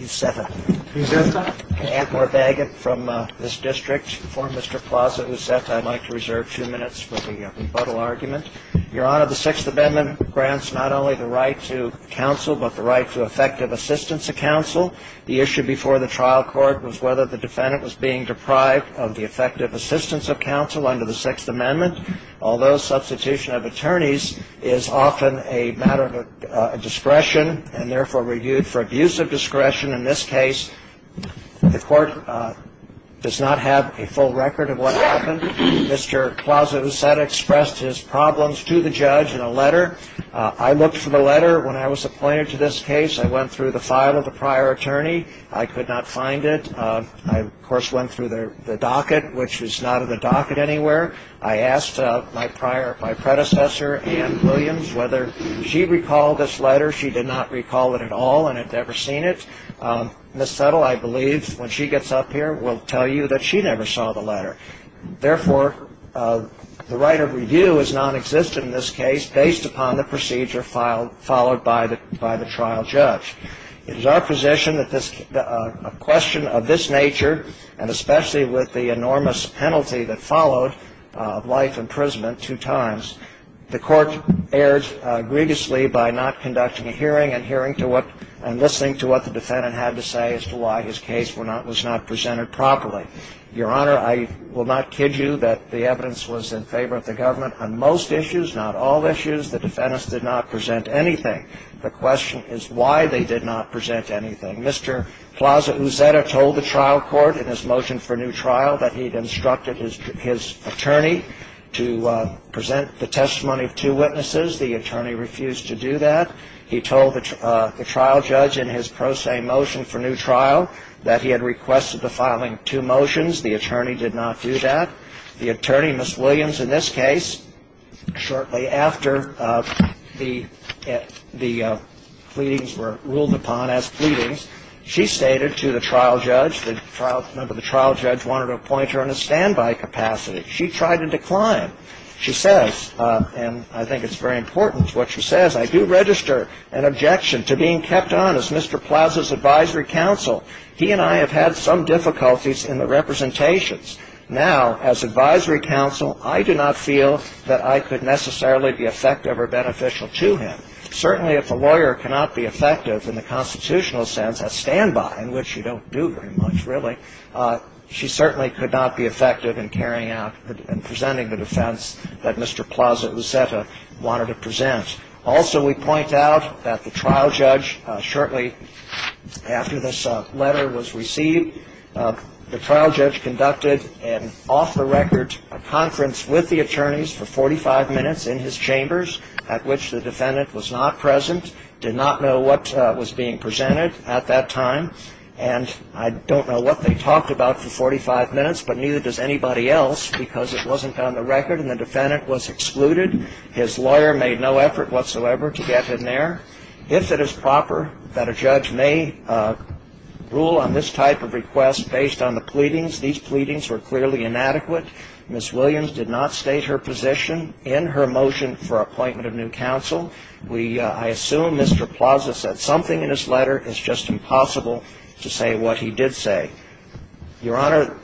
I'd like to reserve a few minutes for the rebuttal argument. Your Honor, the Sixth Amendment grants not only the right to counsel but the right to effective assistance of counsel. The issue before the trial court was whether the defendant was being deprived of the effective assistance of counsel under the Sixth Amendment. Although substitution of attorneys is often a matter of discretion and therefore reviewed for abuse of discretion in this case, the court does not have a full record of what happened. Mr. Plaza-Uzeta expressed his problems to the judge in a letter. I looked for the letter when I was appointed to this case. I went through the file of the prior attorney. I could not find it. I, of course, went through the docket, which was not in the docket anywhere. I asked my predecessor, Ann Williams, whether she recalled this letter. She did not recall it at all and had never seen it. Ms. Settle, I believe, when she gets up here will tell you that she never saw the letter. Therefore, the right of review is nonexistent in this case based upon the procedure followed by the trial judge. It is our position that a question of this nature, and especially with the enormous penalty that followed of life imprisonment two times, the court erred grievously by not conducting a hearing and listening to what the defendant had to say as to why his case was not presented properly. Your Honor, I will not kid you that the evidence was in favor of the government on most issues, not all issues. The defendants did not present anything. The question is why they did not present anything. Mr. Plaza-Uzzetta told the trial court in his motion for new trial that he had instructed his attorney to present the testimony of two witnesses. The attorney refused to do that. He told the trial judge in his pro se motion for new trial that he had requested the filing of two motions. The attorney did not do that. The attorney, Ms. Williams, in this case, shortly after the pleadings were ruled upon as pleadings, she stated to the trial judge that the trial judge wanted to appoint her in a standby capacity. She tried to decline. She says, and I think it's very important what she says, I do register an objection to being kept on as Mr. Plaza's advisory counsel. He and I have had some difficulties in the representations. Now, as advisory counsel, I do not feel that I could necessarily be effective or beneficial to him. Certainly, if a lawyer cannot be effective in the constitutional sense, a standby, in which you don't do very much, really, she certainly could not be effective in carrying out and presenting the defense that Mr. Plaza-Uzzetta wanted to present. Also, we point out that the trial judge shortly after this letter was received, the trial judge conducted an off-the-record conference with the attorneys for 45 minutes in his chambers, at which the defendant was not present, did not know what was being presented at that time, and I don't know what they talked about for 45 minutes, but neither does anybody else, because it wasn't on the record and the defendant was excluded. His lawyer made no effort whatsoever to get him there. If it is proper that a judge may rule on this type of request based on the pleadings, these pleadings were clearly inadequate. Ms. Williams did not state her position in her motion for appointment of new counsel. I assume Mr. Plaza said something in his letter. It's just impossible to say what he did say. Your Honor.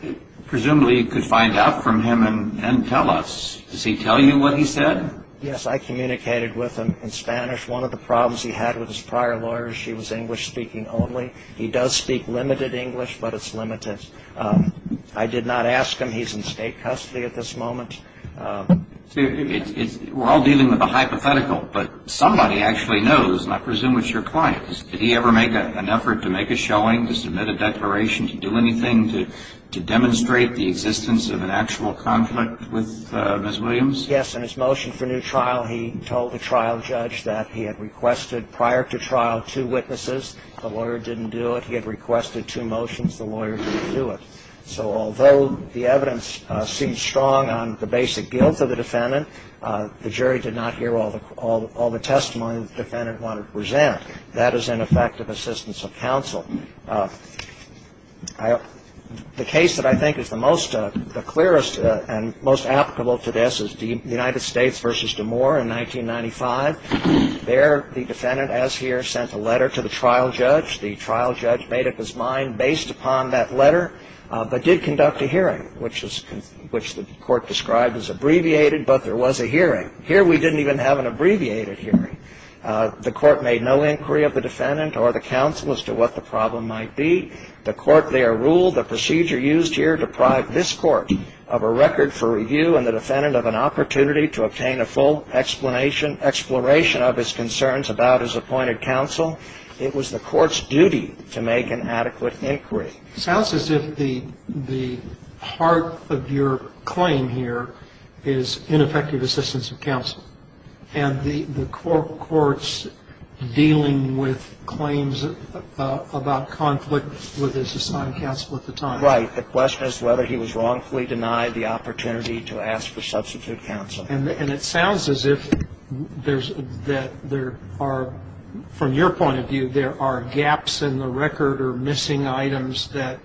Presumably, you could find out from him and tell us. Does he tell you what he said? Yes. I communicated with him in Spanish. One of the problems he had with his prior lawyers, she was English-speaking only. He does speak limited English, but it's limited. I did not ask him. He's in state custody at this moment. We're all dealing with a hypothetical, but somebody actually knows, and I presume it's your client. Did he ever make an effort to make a showing, to submit a declaration, to do anything to demonstrate the existence of an actual conflict with Ms. Williams? Yes. In his motion for new trial, he told the trial judge that he had requested prior to trial two witnesses. The lawyer didn't do it. He had requested two motions. The lawyer didn't do it. So although the evidence seems strong on the basic guilt of the defendant, the jury did not hear all the testimony the defendant wanted to present. That is ineffective assistance of counsel. The case that I think is the clearest and most applicable to this is the United States v. DeMoore in 1995. There, the defendant, as here, sent a letter to the trial judge. The trial judge made up his mind based upon that letter, but did conduct a hearing, which the court described as abbreviated, but there was a hearing. Here, we didn't even have an abbreviated hearing. The court made no inquiry of the defendant or the counsel as to what the problem might be. The court there ruled the procedure used here deprived this court of a record for review and the defendant of an opportunity to obtain a full explanation, exploration of his concerns about his appointed counsel. It was the court's duty to make an adequate inquiry. It sounds as if the heart of your claim here is ineffective assistance of counsel, and the court's dealing with claims about conflict with his assigned counsel at the time. Right. The question is whether he was wrongfully denied the opportunity to ask for substitute counsel. And it sounds as if there are, from your point of view, there are gaps in the record or missing items that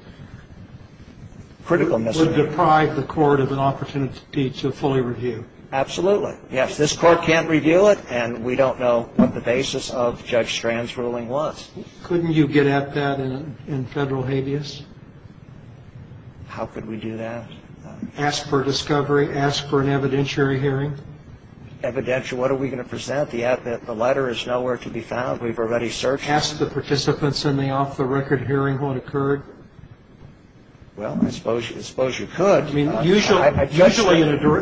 would deprive the court of an opportunity to fully review. Absolutely. Yes, this court can't review it, and we don't know what the basis of Judge Strand's ruling was. Couldn't you get at that in federal habeas? How could we do that? Ask for discovery. Ask for an evidentiary hearing. Evidentiary. What are we going to present? The letter is nowhere to be found. We've already searched it. Ask the participants in the off-the-record hearing what occurred. Well, I suppose you could. I mean, usually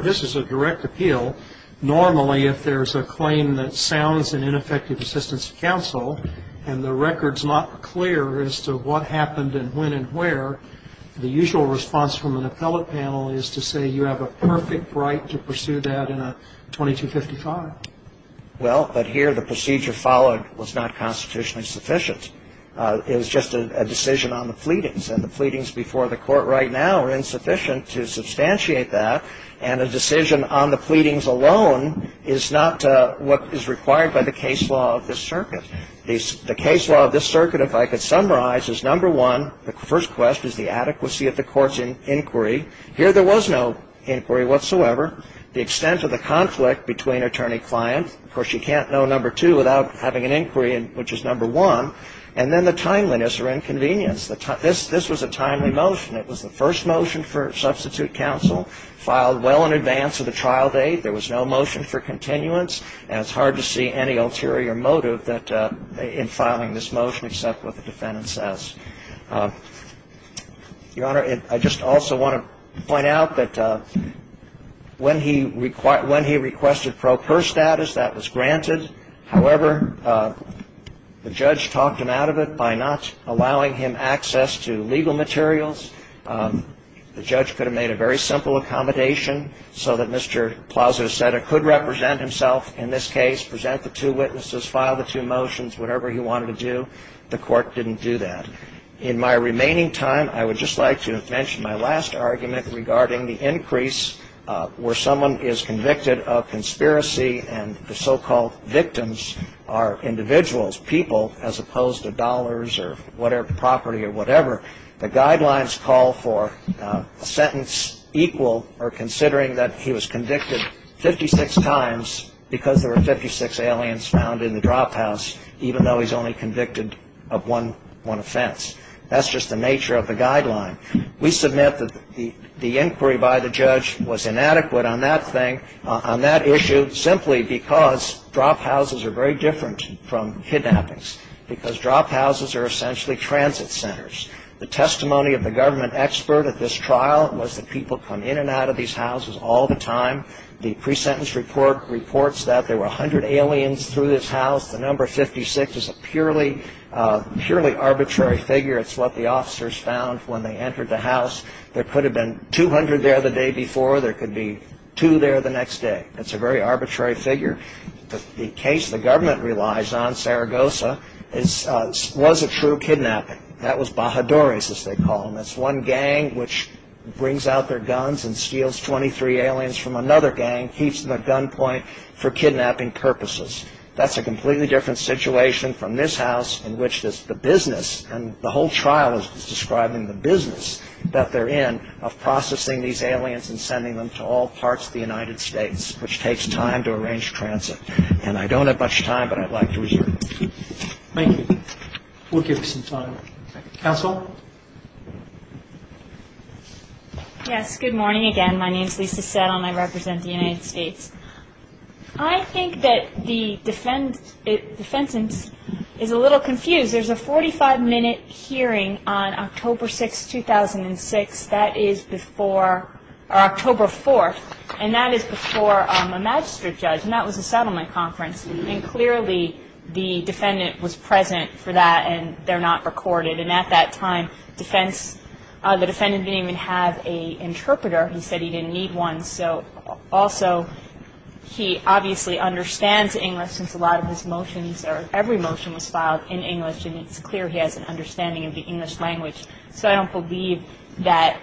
this is a direct appeal. Normally, if there's a claim that sounds in ineffective assistance of counsel, and the record's not clear as to what happened and when and where, the usual response from an appellate panel is to say you have a perfect right to pursue that in a 2255. Well, but here the procedure followed was not constitutionally sufficient. It was just a decision on the pleadings, and the pleadings before the court right now are insufficient to substantiate that, and a decision on the pleadings alone is not what is required by the case law of this circuit. The case law of this circuit, if I could summarize, is number one, the first question is the adequacy of the court's inquiry. Here there was no inquiry whatsoever. The extent of the conflict between attorney-client, of course, you can't know number two without having an inquiry, which is number one. And then the timeliness or inconvenience. This was a timely motion. It was the first motion for substitute counsel filed well in advance of the trial date. There was no motion for continuance, and it's hard to see any ulterior motive in filing this motion except what the defendant says. Your Honor, I just also want to point out that when he requested pro per status, that was granted. However, the judge talked him out of it by not allowing him access to legal materials. The judge could have made a very simple accommodation so that Mr. Plowser said it could represent himself in this case, present the two witnesses, file the two motions, whatever he wanted to do. The court didn't do that. In my remaining time, I would just like to mention my last argument regarding the increase where someone is convicted of conspiracy and the so-called victims are individuals, people, as opposed to dollars or property or whatever. The guidelines call for a sentence equal or considering that he was convicted 56 times because there were 56 aliens found in the drop house, even though he's only convicted of one offense. That's just the nature of the guideline. We submit that the inquiry by the judge was inadequate on that thing, on that issue, simply because drop houses are very different from kidnappings because drop houses are essentially transit centers. The testimony of the government expert at this trial was that people come in and out of these houses all the time. The pre-sentence report reports that there were 100 aliens through this house. The number 56 is a purely arbitrary figure. It's what the officers found when they entered the house. There could have been 200 there the day before. There could be two there the next day. It's a very arbitrary figure. The case the government relies on, Saragossa, was a true kidnapping. That was Bajadores, as they call them. It's one gang which brings out their guns and steals 23 aliens from another gang, keeps the gunpoint for kidnapping purposes. That's a completely different situation from this house in which the business and the whole trial is describing the business that they're in of processing these aliens and sending them to all parts of the United States, which takes time to arrange transit. And I don't have much time, but I'd like to reserve it. Thank you. We'll give you some time. Counsel? Yes, good morning again. My name is Lisa Settle, and I represent the United States. I think that the defendant is a little confused. There's a 45-minute hearing on October 4th, and that is before a magistrate judge, and that was a settlement conference. And clearly the defendant was present for that, and they're not recorded. And at that time, the defendant didn't even have an interpreter. He said he didn't need one. So also he obviously understands English since a lot of his motions or every motion was filed in English, and it's clear he has an understanding of the English language. So I don't believe that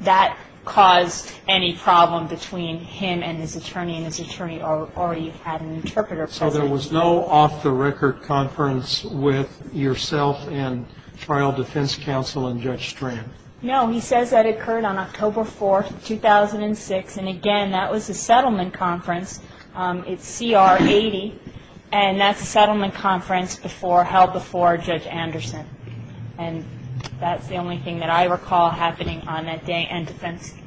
that caused any problem between him and his attorney, and his attorney already had an interpreter present. So there was no off-the-record conference with yourself and trial defense counsel and Judge Strand? No, he says that occurred on October 4th, 2006, and again, that was a settlement conference. It's CR 80, and that's a settlement conference held before Judge Anderson. And that's the only thing that I recall happening on that day, and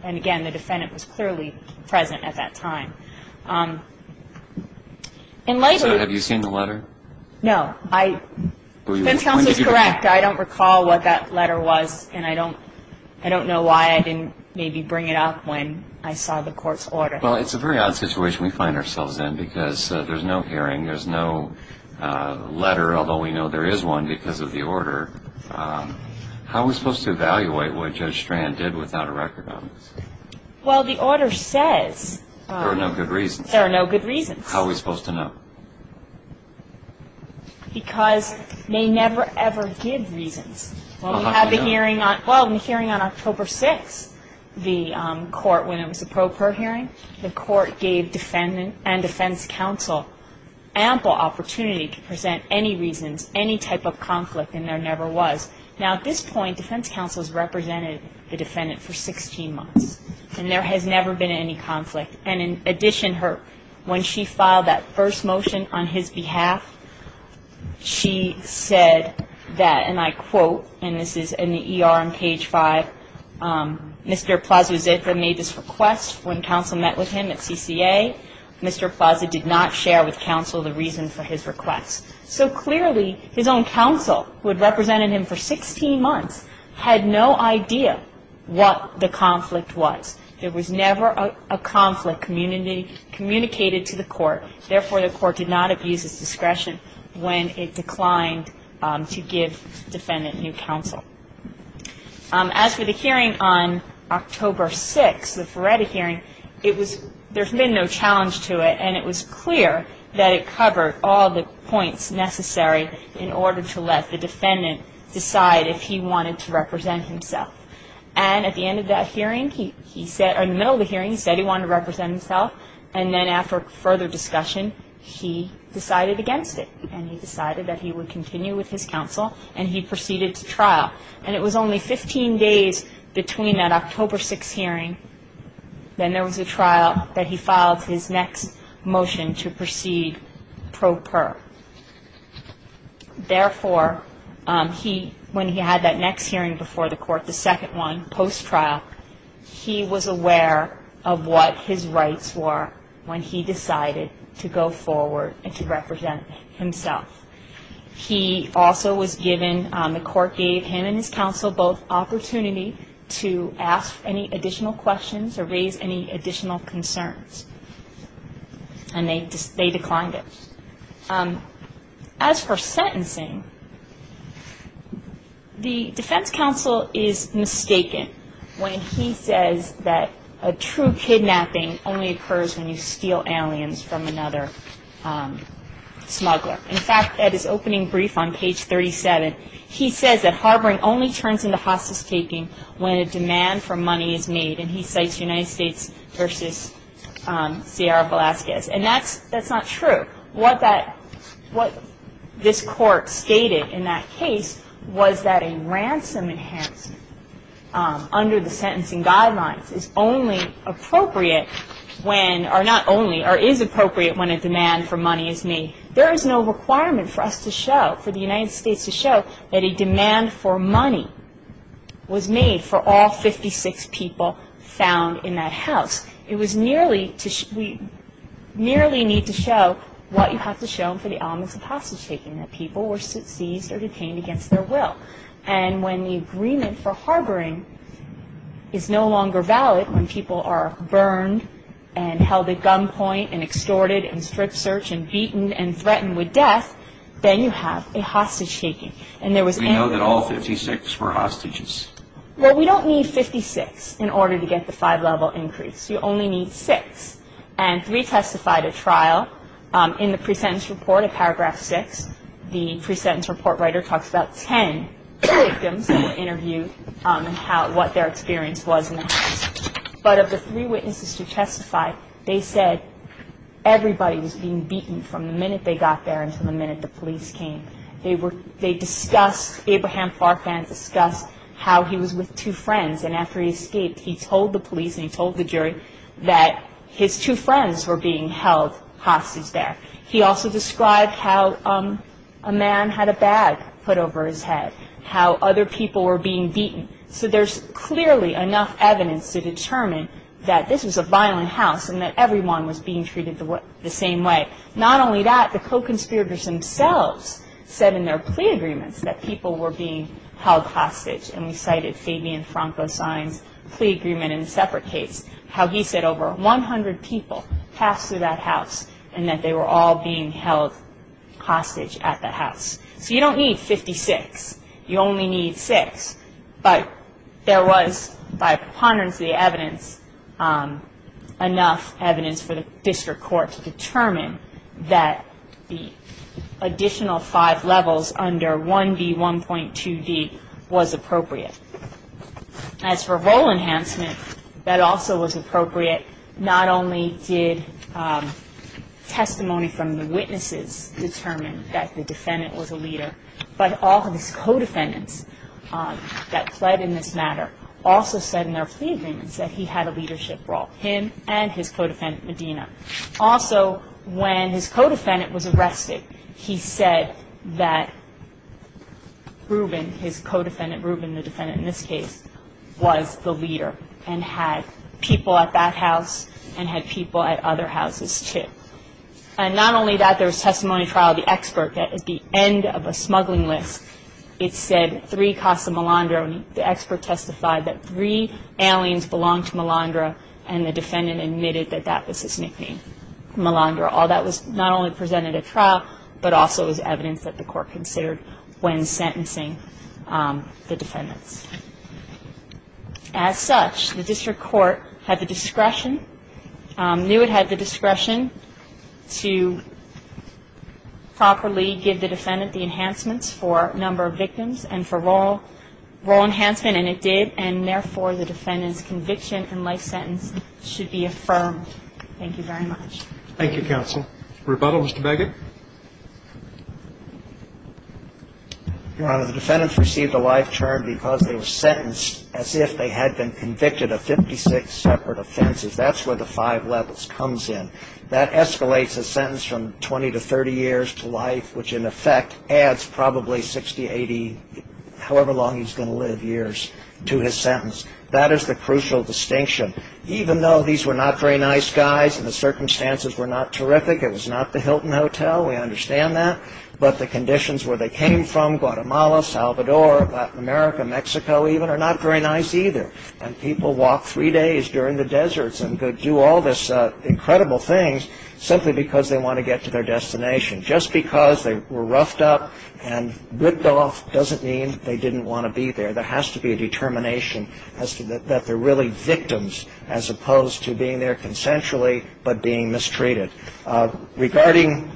again, the defendant was clearly present at that time. So have you seen the letter? No. Defense counsel is correct. In fact, I don't recall what that letter was, and I don't know why I didn't maybe bring it up when I saw the court's order. Well, it's a very odd situation we find ourselves in because there's no hearing, there's no letter, although we know there is one because of the order. How are we supposed to evaluate what Judge Strand did without a record on this? Well, the order says there are no good reasons. There are no good reasons. How are we supposed to know? Because they never, ever give reasons. Well, we had the hearing on October 6th, the court, when it was the pro per hearing. The court gave defendant and defense counsel ample opportunity to present any reasons, any type of conflict, and there never was. Now, at this point, defense counsel has represented the defendant for 16 months, and there has never been any conflict. And in addition, when she filed that first motion on his behalf, she said that, and I quote, and this is in the ER on page 5, Mr. Plaza-Zitra made this request when counsel met with him at CCA. Mr. Plaza did not share with counsel the reason for his request. So clearly, his own counsel, who had represented him for 16 months, had no idea what the conflict was. There was never a conflict communicated to the court. Therefore, the court did not abuse its discretion when it declined to give defendant new counsel. As for the hearing on October 6th, the Feretta hearing, there's been no challenge to it, and it was clear that it covered all the points necessary in order to let the defendant decide if he wanted to represent himself. And at the end of that hearing, he said, or in the middle of the hearing, he said he wanted to represent himself, and then after further discussion, he decided against it, and he decided that he would continue with his counsel, and he proceeded to trial. And it was only 15 days between that October 6th hearing, then there was a trial that he filed his next motion to proceed pro per. Therefore, when he had that next hearing before the court, the second one, post-trial, he was aware of what his rights were when he decided to go forward and to represent himself. He also was given, the court gave him and his counsel both opportunity to ask any additional questions or raise any additional concerns, and they declined it. As for sentencing, the defense counsel is mistaken when he says that a true kidnapping only occurs when you steal aliens from another smuggler. In fact, at his opening brief on page 37, he says that harboring only turns into hostage-taking when a demand for money is made, and he cites United States versus Sierra Velazquez. And that's not true. What this court stated in that case was that a ransom enhancement under the sentencing guidelines is only appropriate when, or not only, or is appropriate when a demand for money is made. There is no requirement for us to show, for the United States to show, that a demand for money was made for all 56 people found in that house. It was merely to, we merely need to show what you have to show for the elements of hostage-taking, that people were seized or detained against their will. And when the agreement for harboring is no longer valid, when people are burned and held at gunpoint and extorted and strip-searched and beaten and threatened with death, then you have a hostage-taking. And there was... We know that all 56 were hostages. Well, we don't need 56 in order to get the five-level increase. You only need six. And three testified at trial. In the pre-sentence report at paragraph 6, the pre-sentence report writer talks about 10 victims that were interviewed and what their experience was in the house. But of the three witnesses who testified, they said everybody was being beaten from the minute they got there until the minute the police came. They discussed, Abraham Farfan discussed how he was with two friends, and after he escaped, he told the police and he told the jury that his two friends were being held hostage there. He also described how a man had a bag put over his head, how other people were being beaten. So there's clearly enough evidence to determine that this was a violent house and that everyone was being treated the same way. Not only that, the co-conspirators themselves said in their plea agreements that people were being held hostage. And we cited Fabian Franco's plea agreement in a separate case, how he said over 100 people passed through that house and that they were all being held hostage at the house. So you don't need 56. You only need six. But there was, by preponderance of the evidence, enough evidence for the district court to determine that the additional five levels under 1B1.2d was appropriate. As for role enhancement, that also was appropriate. Not only did testimony from the witnesses determine that the defendant was a leader, but all of his co-defendants that pled in this matter also said in their plea agreements that he had a leadership role, him and his co-defendant Medina. Also, when his co-defendant was arrested, he said that Rubin, his co-defendant Rubin, the defendant in this case, was the leader and had people at that house and had people at other houses too. And not only that, there was testimony trial of the expert at the end of a smuggling list. It said three costs to Malandra, and the expert testified that three aliens belonged to Malandra and the defendant admitted that that was his nickname, Malandra. All that was not only presented at trial, but also was evidence that the court considered when sentencing the defendants. As such, the district court had the discretion, knew it had the discretion, to properly give the defendant the enhancements for number of victims and for role enhancement, and it did, and therefore the defendant's conviction and life sentence should be affirmed. Thank you very much. Thank you, counsel. Rebuttal, Mr. Baggett. Your Honor, the defendants received a life term because they were sentenced as if they had been convicted of 56 separate offenses. That's where the five levels comes in. That escalates a sentence from 20 to 30 years to life, which in effect adds probably 60, 80, however long he's going to live, years to his sentence. That is the crucial distinction. Even though these were not very nice guys and the circumstances were not terrific, it was not the Hilton Hotel, we understand that, but the conditions where they came from, Guatemala, Salvador, Latin America, Mexico even, are not very nice either. And people walk three days during the deserts and do all these incredible things simply because they want to get to their destination. Just because they were roughed up and ripped off doesn't mean they didn't want to be there. There has to be a determination that they're really victims as opposed to being there consensually but being mistreated. Regarding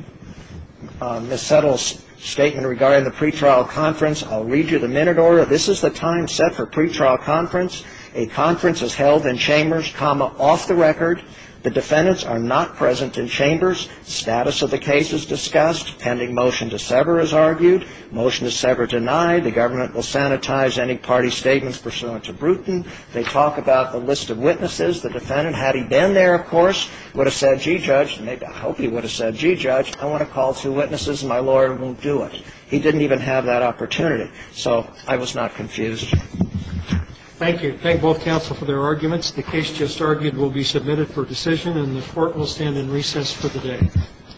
Ms. Settle's statement regarding the pretrial conference, I'll read you the minute order. This is the time set for pretrial conference. A conference is held in chambers, comma, off the record. The defendants are not present in chambers. Status of the case is discussed. Pending motion to sever is argued. Motion to sever denied. The government will sanitize any party statements pursuant to Bruton. They talk about the list of witnesses. The defendant, had he been there, of course, would have said, gee, Judge, I hope he would have said, gee, Judge, I want to call two witnesses and my lawyer won't do it. He didn't even have that opportunity. So I was not confused. Thank you. Thank both counsel for their arguments. The case just argued will be submitted for decision, and the Court will stand in recess for the day.